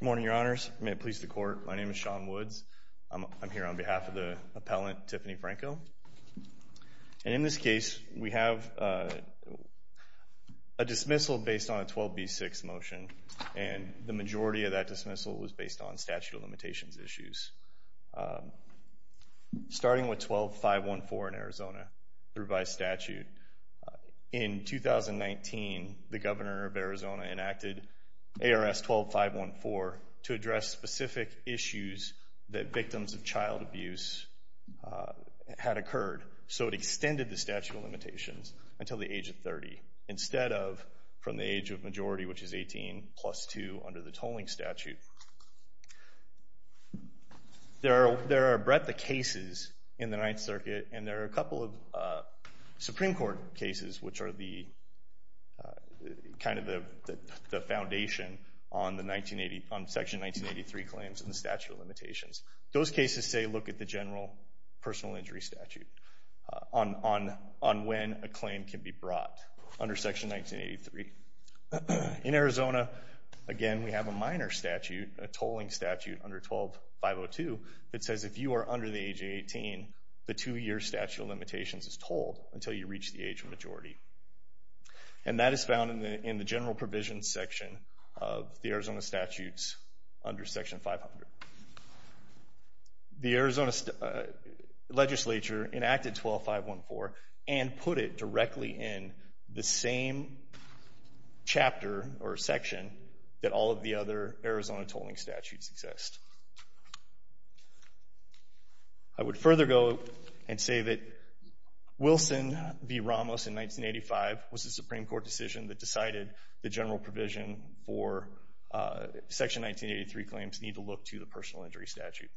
Good morning, Your Honors. May it please the Court, my name is Sean Woods. I'm here on behalf of the appellant, Tiffany Franco. And in this case, we have a dismissal based on a 12b6 motion, and the majority of that dismissal was based on statute of limitations issues. Starting with 12.514 in Arizona, revised statute, in 2019, the Governor of Arizona enacted ARS 12.514 to address specific issues that victims of child abuse had occurred. So it extended the statute of limitations until the age of 30, instead of from the age of majority, which is 18, plus 2 under the tolling statute. There are a breadth of cases in the Ninth Circuit, and there are a couple of Supreme Court cases, which are kind of the foundation on Section 1983 claims and the statute of limitations. Those cases, say, look at the general personal injury statute on when a claim can be brought under Section 1983. In Arizona, again, we have a minor statute, a tolling statute under 12.502, that says if you are under the age of 18, the two-year statute of limitations is tolled until you reach the age of majority. And that is found in the general provisions section of the Arizona statutes under Section 500. The Arizona legislature enacted 12.514 and put it directly in the same chapter or section that all of the other Arizona tolling statutes exist. I would further go and say that Wilson v. Ramos in 1985 was a Supreme Court decision that decided the general provision for Section 1983 claims need to look to the personal injury statute.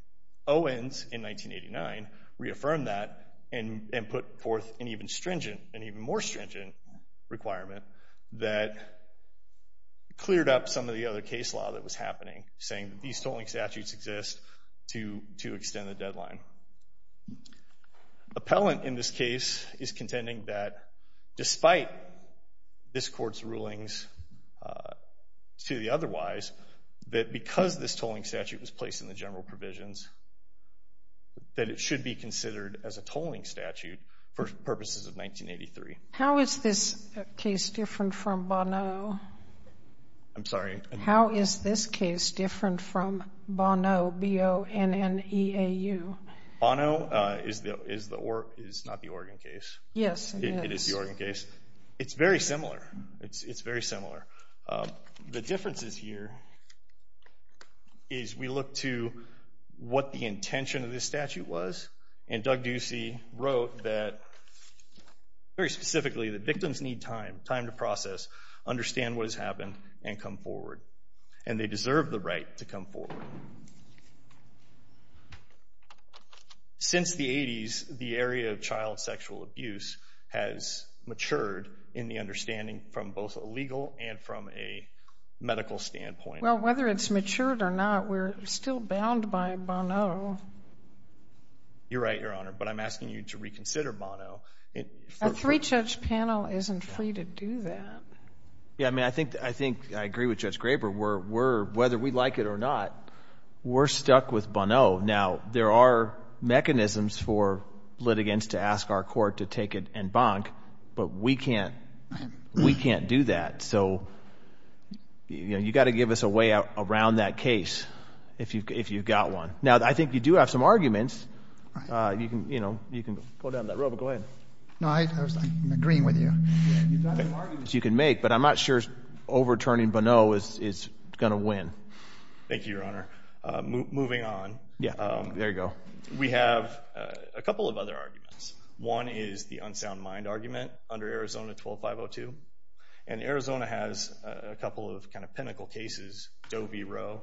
Owens, in 1989, reaffirmed that and put forth an even stringent and even more stringent requirement that cleared up some of the other case law that was happening, saying that these tolling statutes exist to extend the deadline. Appellant, in this case, is contending that despite this Court's rulings to the otherwise, that because this tolling statute was placed in the general provisions, that it should be considered as a tolling statute for purposes of 1983. How is this case different from Bonneau? I'm sorry? Bonneau is not the Oregon case. Yes, it is. It is the Oregon case. It's very similar. It's very similar. The differences here is we look to what the intention of this statute was, and Doug Ducey wrote that very specifically that victims need time, time to process, understand what has happened, and come forward. And they deserve the right to come forward. Since the 80s, the area of child sexual abuse has matured in the understanding from both a legal and from a medical standpoint. Well, whether it's matured or not, we're still bound by Bonneau. You're right, Your Honor, but I'm asking you to reconsider Bonneau. A three-judge panel isn't free to do that. Yeah, I mean, I think I agree with Judge Graber. Whether we like it or not, we're stuck with Bonneau. Now, there are mechanisms for litigants to ask our court to take it and bonk, but we can't do that. So you've got to give us a way around that case if you've got one. Now, I think you do have some arguments. You can pull down that rope. Go ahead. No, I'm agreeing with you. You've got some arguments you can make, but I'm not sure overturning Bonneau is going to win. Thank you, Your Honor. Moving on. Yeah, there you go. We have a couple of other arguments. One is the unsound mind argument under Arizona 12-502, and Arizona has a couple of kind of pinnacle cases. Doe v. Roe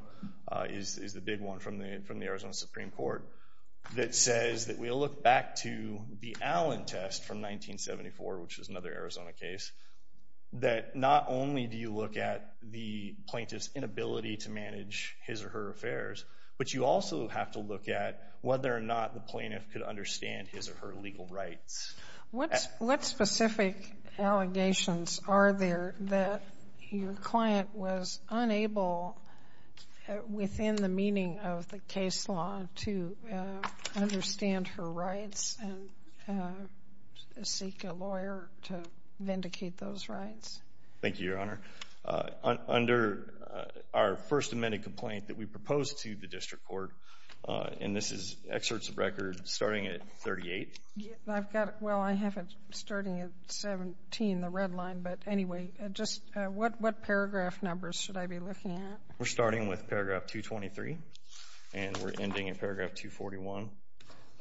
is the big one from the Arizona Supreme Court that says that we'll look back to the Allen test from 1974, which is another Arizona case, that not only do you look at the plaintiff's inability to manage his or her affairs, but you also have to look at whether or not the plaintiff could understand his or her legal rights. What specific allegations are there that your client was unable, within the meaning of the case law, to understand her rights and seek a lawyer to vindicate those rights? Thank you, Your Honor. Under our first amended complaint that we proposed to the district court, and this is excerpts of records starting at 38. I've got it. Well, I have it starting at 17, the red line. But anyway, just what paragraph numbers should I be looking at? We're starting with paragraph 223, and we're ending in paragraph 241,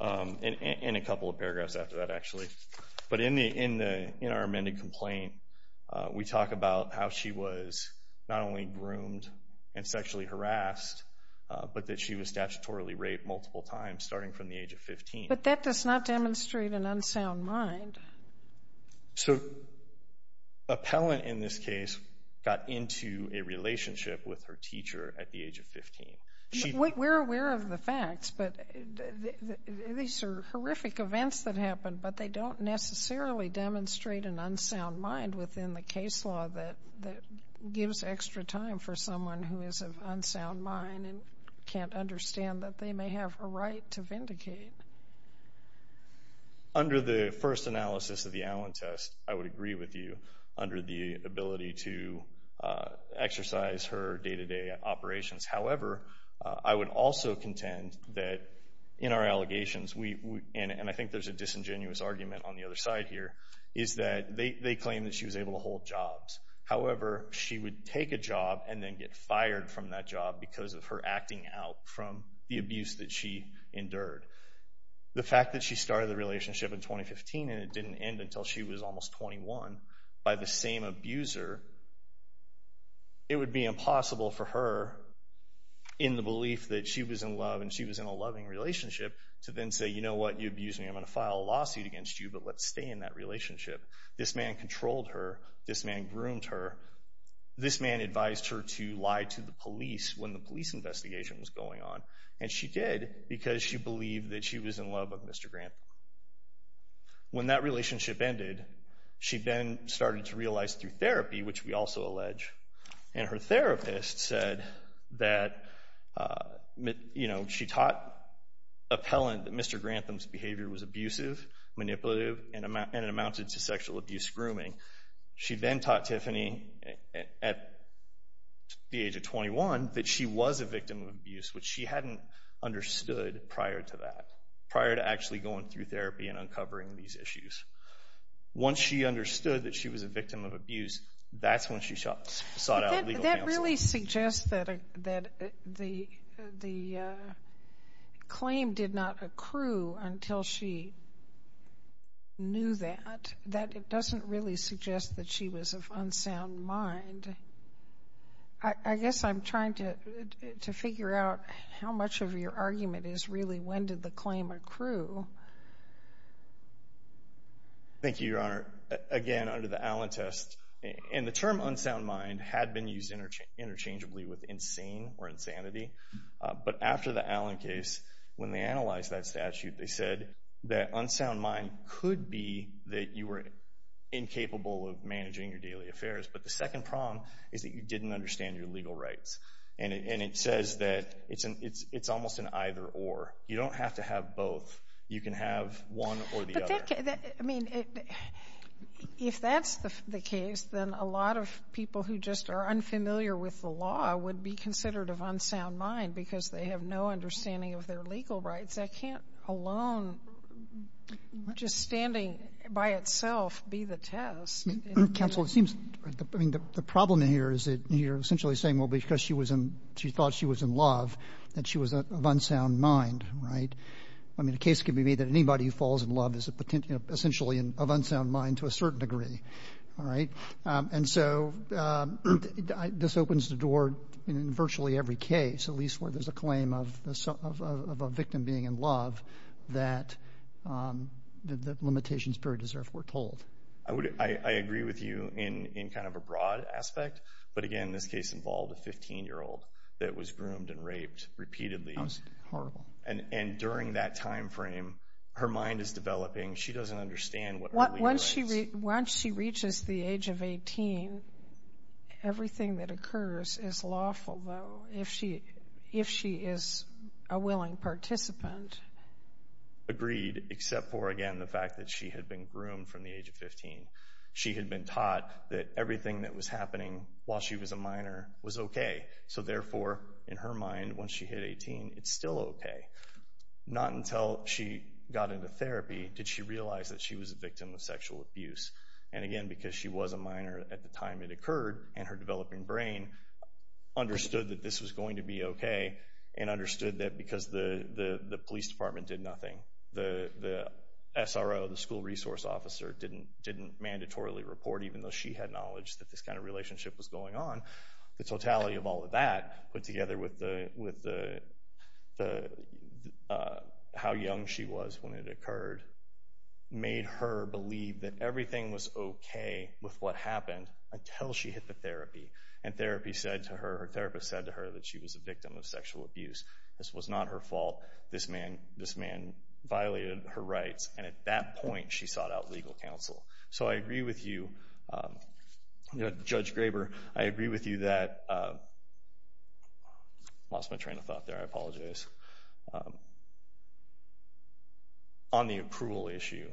and a couple of paragraphs after that, actually. But in our amended complaint, we talk about how she was not only groomed and sexually harassed, but that she was statutorily raped multiple times, starting from the age of 15. But that does not demonstrate an unsound mind. So appellant, in this case, got into a relationship with her teacher at the age of 15. We're aware of the facts, but these are horrific events that happened, but they don't necessarily demonstrate an unsound mind within the case law that gives extra time for someone who is of unsound mind and can't understand that they may have a right to vindicate. Under the first analysis of the Allen test, I would agree with you under the ability to exercise her day-to-day operations. However, I would also contend that in our allegations, and I think there's a disingenuous argument on the other side here, is that they claim that she was able to hold jobs. However, she would take a job and then get fired from that job because of her acting out from the abuse that she endured. The fact that she started the relationship in 2015 and it didn't end until she was almost 21 by the same abuser, it would be impossible for her, in the belief that she was in love and she was in a loving relationship, to then say, you know what, you abused me, I'm going to file a lawsuit against you, but let's stay in that relationship. This man controlled her. This man groomed her. This man advised her to lie to the police when the police investigation was going on. And she did because she believed that she was in love with Mr. Grantham. When that relationship ended, she then started to realize through therapy, which we also allege, and her therapist said that, you know, she taught appellant that Mr. Grantham's behavior was abusive, manipulative, and it amounted to sexual abuse grooming. She then taught Tiffany at the age of 21 that she was a victim of abuse, which she hadn't understood prior to that, prior to actually going through therapy and uncovering these issues. Once she understood that she was a victim of abuse, that's when she sought out legal counsel. That really suggests that the claim did not accrue until she knew that. That doesn't really suggest that she was of unsound mind. I guess I'm trying to figure out how much of your argument is really when did the claim accrue. Thank you, Your Honor. Your Honor, again, under the Allen test, and the term unsound mind had been used interchangeably with insane or insanity. But after the Allen case, when they analyzed that statute, they said that unsound mind could be that you were incapable of managing your daily affairs. But the second problem is that you didn't understand your legal rights. And it says that it's almost an either-or. You don't have to have both. You can have one or the other. I mean, if that's the case, then a lot of people who just are unfamiliar with the law would be considered of unsound mind because they have no understanding of their legal rights. That can't alone just standing by itself be the test. Counsel, it seems the problem here is that you're essentially saying, well, because she thought she was in love, that she was of unsound mind, right? I mean, the case could be made that anybody who falls in love is essentially of unsound mind to a certain degree. All right? And so this opens the door in virtually every case, at least where there's a claim of a victim being in love, that the limitations period is therefore told. I agree with you in kind of a broad aspect. But, again, this case involved a 15-year-old that was groomed and raped repeatedly. That was horrible. And during that time frame, her mind is developing. She doesn't understand what legal rights. Once she reaches the age of 18, everything that occurs is lawful, though, if she is a willing participant. Agreed, except for, again, the fact that she had been groomed from the age of 15. She had been taught that everything that was happening while she was a minor was okay. So, therefore, in her mind, once she hit 18, it's still okay. Not until she got into therapy did she realize that she was a victim of sexual abuse. And, again, because she was a minor at the time it occurred, and her developing brain understood that this was going to be okay and understood that because the police department did nothing, the SRO, the school resource officer, didn't mandatorily report, even though she had knowledge that this kind of relationship was going on, the totality of all of that, put together with how young she was when it occurred, made her believe that everything was okay with what happened until she hit the therapy. And therapy said to her, her therapist said to her, that she was a victim of sexual abuse. This was not her fault. This man violated her rights. And at that point, she sought out legal counsel. So I agree with you. Judge Graber, I agree with you that—I lost my train of thought there. I apologize. On the accrual issue,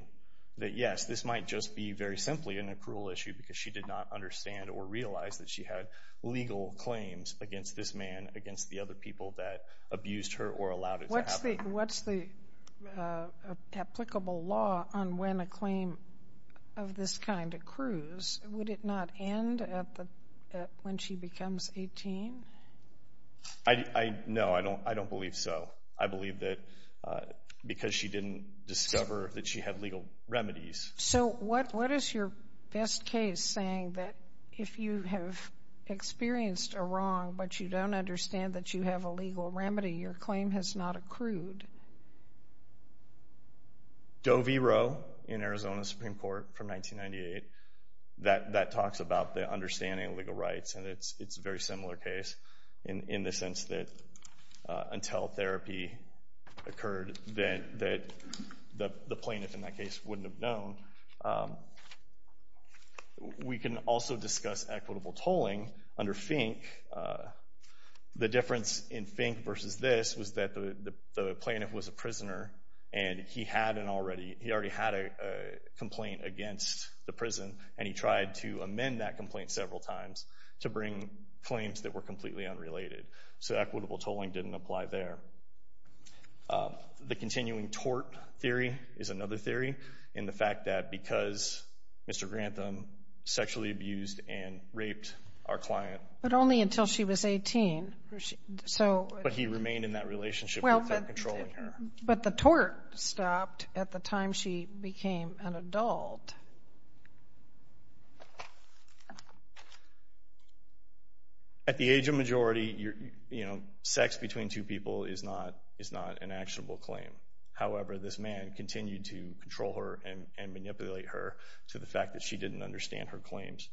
that, yes, this might just be very simply an accrual issue because she did not understand or realize that she had legal claims against this man, against the other people that abused her or allowed it to happen. What's the applicable law on when a claim of this kind accrues? Would it not end when she becomes 18? No, I don't believe so. I believe that because she didn't discover that she had legal remedies. So what is your best case saying that if you have experienced a wrong but you don't understand that you have a legal remedy, your claim has not accrued? Doe v. Roe in Arizona Supreme Court from 1998, that talks about the understanding of legal rights, and it's a very similar case in the sense that until therapy occurred, that the plaintiff in that case wouldn't have known. We can also discuss equitable tolling under Fink. The difference in Fink versus this was that the plaintiff was a prisoner, and he already had a complaint against the prison, and he tried to amend that complaint several times to bring claims that were completely unrelated. So equitable tolling didn't apply there. The continuing tort theory is another theory, and the fact that because Mr. Grantham sexually abused and raped our client. But only until she was 18. But he remained in that relationship without controlling her. But the tort stopped at the time she became an adult. At the age of majority, sex between two people is not an actionable claim. However, this man continued to control her and manipulate her to the fact that she didn't understand her claims.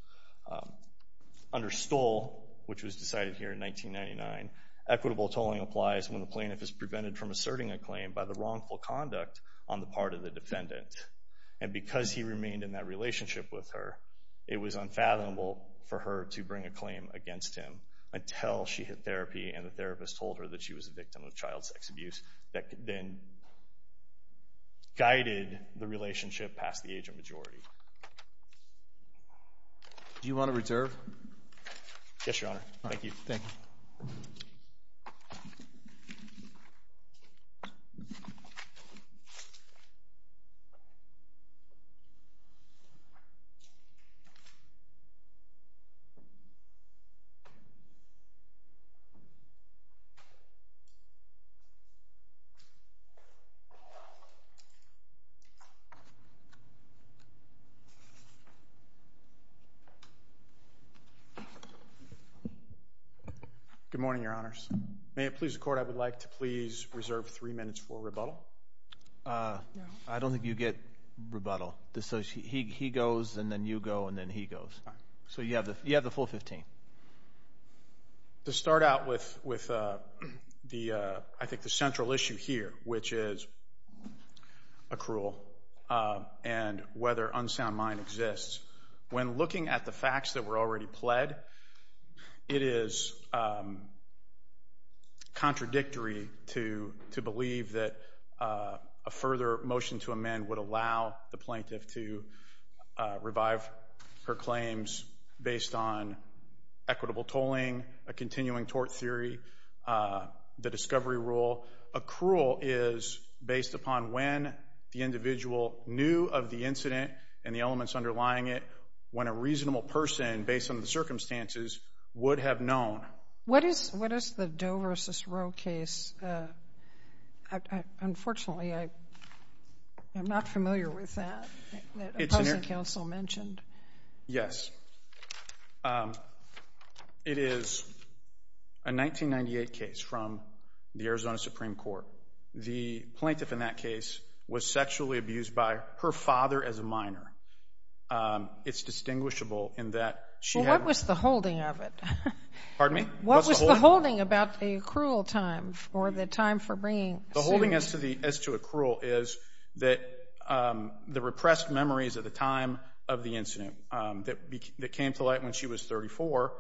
Under Stoll, which was decided here in 1999, equitable tolling applies when the plaintiff is prevented from asserting a claim by the wrongful conduct on the part of the defendant. And because he remained in that relationship, it was unfathomable for her to bring a claim against him until she hit therapy and the therapist told her that she was a victim of child sex abuse that then guided the relationship past the age of majority. Do you want to reserve? Yes, Your Honor. Thank you. Thank you. Good morning, Your Honors. May it please the Court, I would like to please reserve three minutes for rebuttal. I don't think you get rebuttal. He goes and then you go and then he goes. So you have the full 15. To start out with, I think, the central issue here, which is accrual and whether unsound mind exists, when looking at the facts that were already pled, it is contradictory to believe that a further motion to amend would allow the plaintiff to revive her claims based on equitable tolling, a continuing tort theory, the discovery rule. Accrual is based upon when the individual knew of the incident and the elements underlying it, when a reasonable person, based on the circumstances, would have known. What is the Doe v. Roe case? Unfortunately, I'm not familiar with that, that opposing counsel mentioned. Yes. It is a 1998 case from the Arizona Supreme Court. The plaintiff in that case was sexually abused by her father as a minor. It's distinguishable in that she had- Well, what was the holding of it? Pardon me? What was the holding about the accrual time for the time for bringing Sue? The holding as to accrual is that the repressed memories of the time of the incident that came to light when she was 34,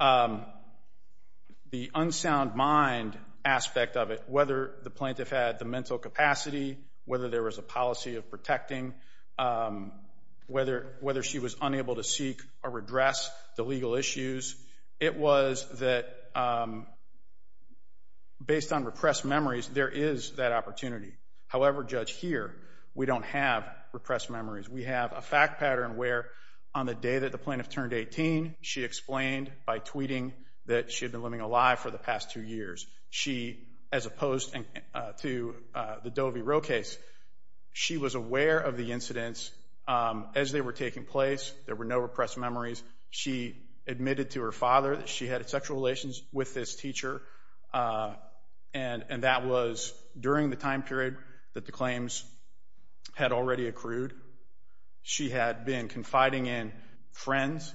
the unsound mind aspect of it, whether the plaintiff had the mental capacity, whether there was a policy of protecting, whether she was unable to seek or redress the legal issues, it was that based on repressed memories, there is that opportunity. However, Judge, here we don't have repressed memories. We have a fact pattern where on the day that the plaintiff turned 18, she explained by tweeting that she had been living a lie for the past two years. She, as opposed to the Doe v. Roe case, she was aware of the incidents as they were taking place. There were no repressed memories. She admitted to her father that she had sexual relations with this teacher, and that was during the time period that the claims had already accrued. She had been confiding in friends.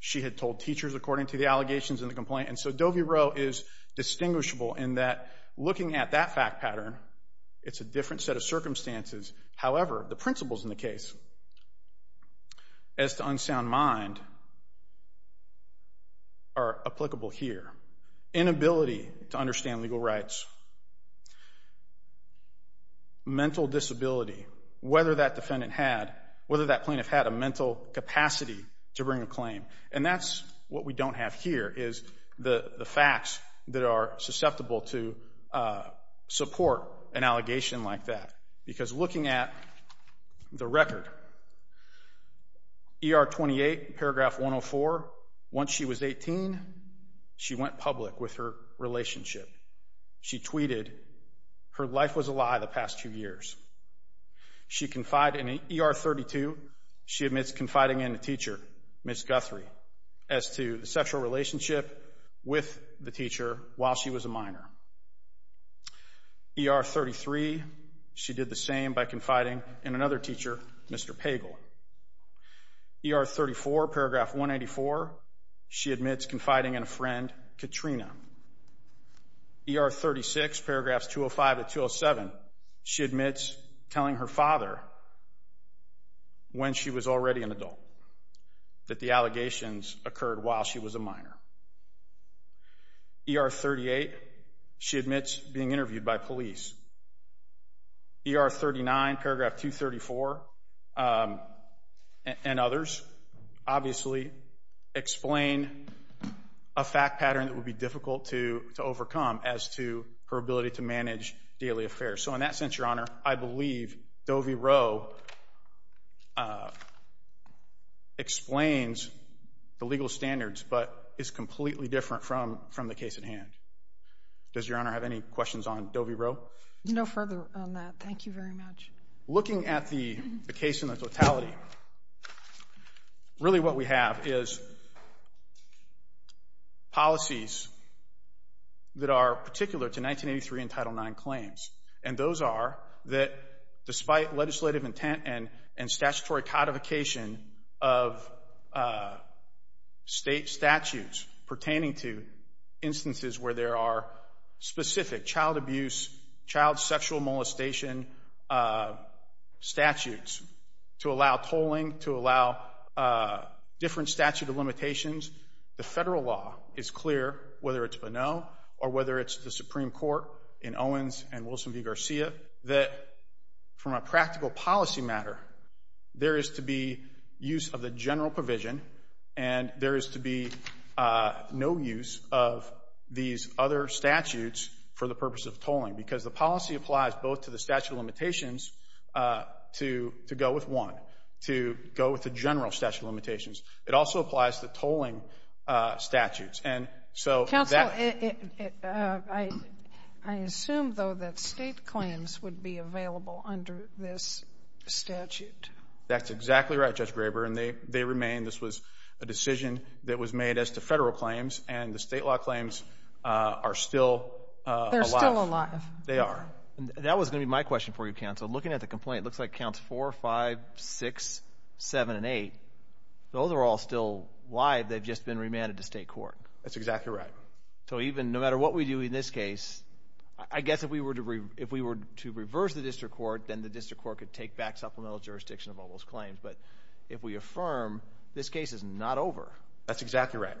She had told teachers according to the allegations in the complaint. And so Doe v. Roe is distinguishable in that looking at that fact pattern, it's a different set of circumstances. However, the principles in the case as to unsound mind are applicable here. Inability to understand legal rights, mental disability, whether that plaintiff had a mental capacity to bring a claim, and that's what we don't have here, is the facts that are susceptible to support an allegation like that. Because looking at the record, E.R. 28, paragraph 104, once she was 18, she went public with her relationship. She tweeted, her life was a lie the past two years. She confided in E.R. 32, she admits confiding in a teacher, Ms. Guthrie, as to the sexual relationship with the teacher while she was a minor. E.R. 33, she did the same by confiding in another teacher, Mr. Pagel. E.R. 34, paragraph 184, she admits confiding in a friend, Katrina. E.R. 36, paragraphs 205 to 207, she admits telling her father, when she was already an adult, that the allegations occurred while she was a minor. E.R. 38, she admits being interviewed by police. E.R. 39, paragraph 234, and others, obviously explain a fact pattern that would be difficult to overcome as to her ability to manage daily affairs. So in that sense, Your Honor, I believe Doe v. Rowe explains the legal standards, but is completely different from the case at hand. Does Your Honor have any questions on Doe v. Rowe? No further on that. Thank you very much. Looking at the case in the totality, really what we have is policies that are particular to 1983 and Title IX claims, and those are that despite legislative intent and statutory codification of state statutes pertaining to instances where there are specific child abuse, child sexual molestation statutes to allow tolling, to allow different statute of limitations, the federal law is clear, whether it's Bonneau or whether it's the Supreme Court in Owens and Wilson v. Garcia, that from a practical policy matter, there is to be use of the general provision, and there is to be no use of these other statutes for the purpose of tolling, because the policy applies both to the statute of limitations to go with one, to go with the general statute of limitations. It also applies to tolling statutes. Counsel, I assume, though, that state claims would be available under this statute. That's exactly right, Judge Graber, and they remain. This was a decision that was made as to federal claims, and the state law claims are still alive. They are. That was going to be my question for you, Counsel. Looking at the complaint, it looks like counts 4, 5, 6, 7, and 8. Those are all still live. They've just been remanded to state court. That's exactly right. So even no matter what we do in this case, I guess if we were to reverse the district court, then the district court could take back supplemental jurisdiction of all those claims. But if we affirm, this case is not over. That's exactly right.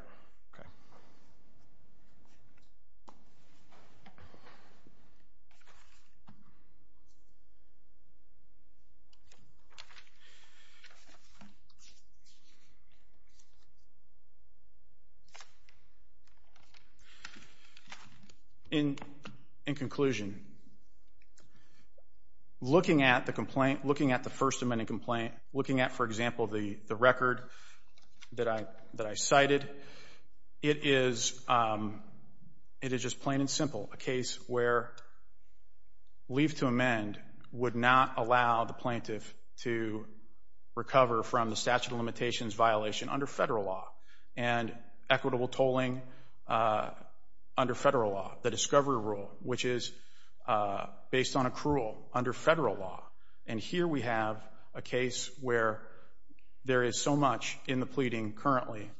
In conclusion, looking at the complaint, looking at the First Amendment complaint, looking at, for example, the record that I cited, it is just plain and simple a case where leave to amend would not allow the plaintiff to recover from the statute of limitations violation under federal law and equitable tolling under federal law, the discovery rule, which is based on accrual under federal law. And here we have a case where there is so much in the pleading currently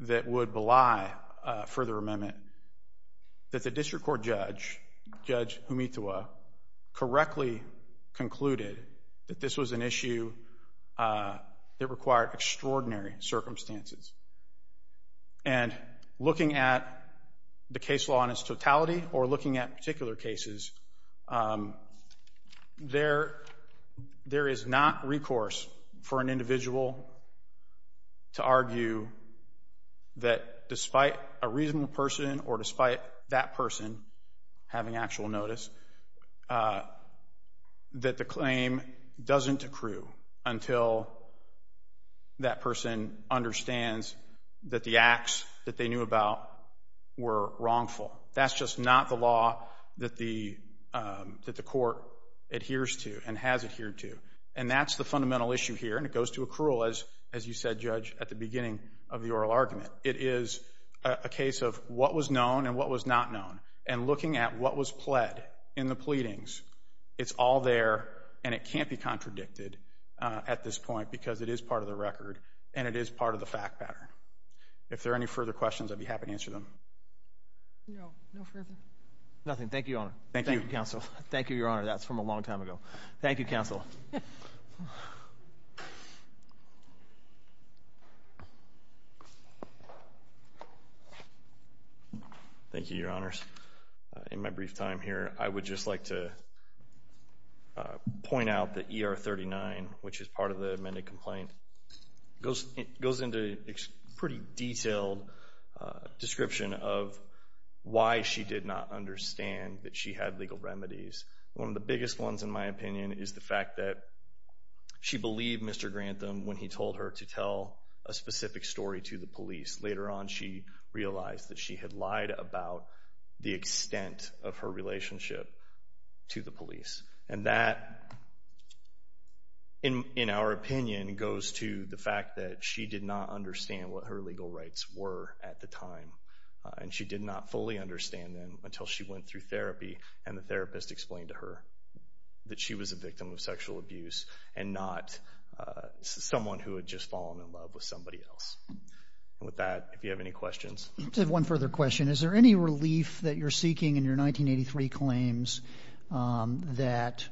that would belie further amendment that the district court judge, Judge Humitua, correctly concluded that this was an issue that required extraordinary circumstances. And looking at the case law in its totality or looking at particular cases, there is not recourse for an individual to argue that despite a reasonable person or despite that person having actual notice, that the claim doesn't accrue until that person understands that the acts that they knew about were wrongful. That's just not the law that the court adheres to and has adhered to. And that's the fundamental issue here, and it goes to accrual, as you said, Judge, at the beginning of the oral argument. It is a case of what was known and what was not known. And looking at what was pled in the pleadings, it's all there, and it can't be contradicted at this point because it is part of the record and it is part of the fact pattern. If there are any further questions, I'd be happy to answer them. No, no further. Nothing. Thank you, Your Honor. Thank you, Counsel. Thank you, Your Honor. That's from a long time ago. Thank you, Counsel. Thank you, Your Honors. In my brief time here, I would just like to point out that ER 39, which is part of the amended complaint, goes into a pretty detailed description of why she did not understand that she had legal remedies. One of the biggest ones, in my opinion, is the fact that she believed Mr. Grantham when he told her to tell a specific story to the police. Later on, she realized that she had lied about the extent of her relationship to the police, and that, in our opinion, goes to the fact that she did not understand what her legal rights were at the time, and she did not fully understand them until she went through therapy and the therapist explained to her that she was a victim of sexual abuse and not someone who had just fallen in love with somebody else. With that, if you have any questions. I just have one further question. Is there any relief that you're seeking in your 1983 claims that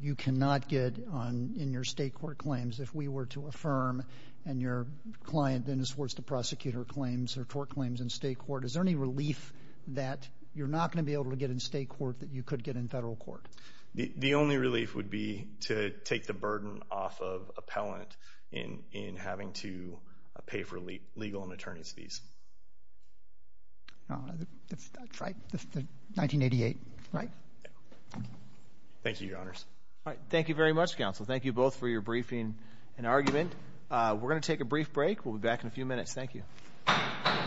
you cannot get in your state court claims if we were to affirm, and your client then is forced to prosecute her claims or tort claims in state court? Is there any relief that you're not going to be able to get in state court that you could get in federal court? The only relief would be to take the burden off of appellant in having to pay for legal and attorney's fees. That's right. This is 1988, right? Thank you, Your Honors. Thank you very much, Counsel. Thank you both for your briefing and argument. We're going to take a brief break. We'll be back in a few minutes. Thank you.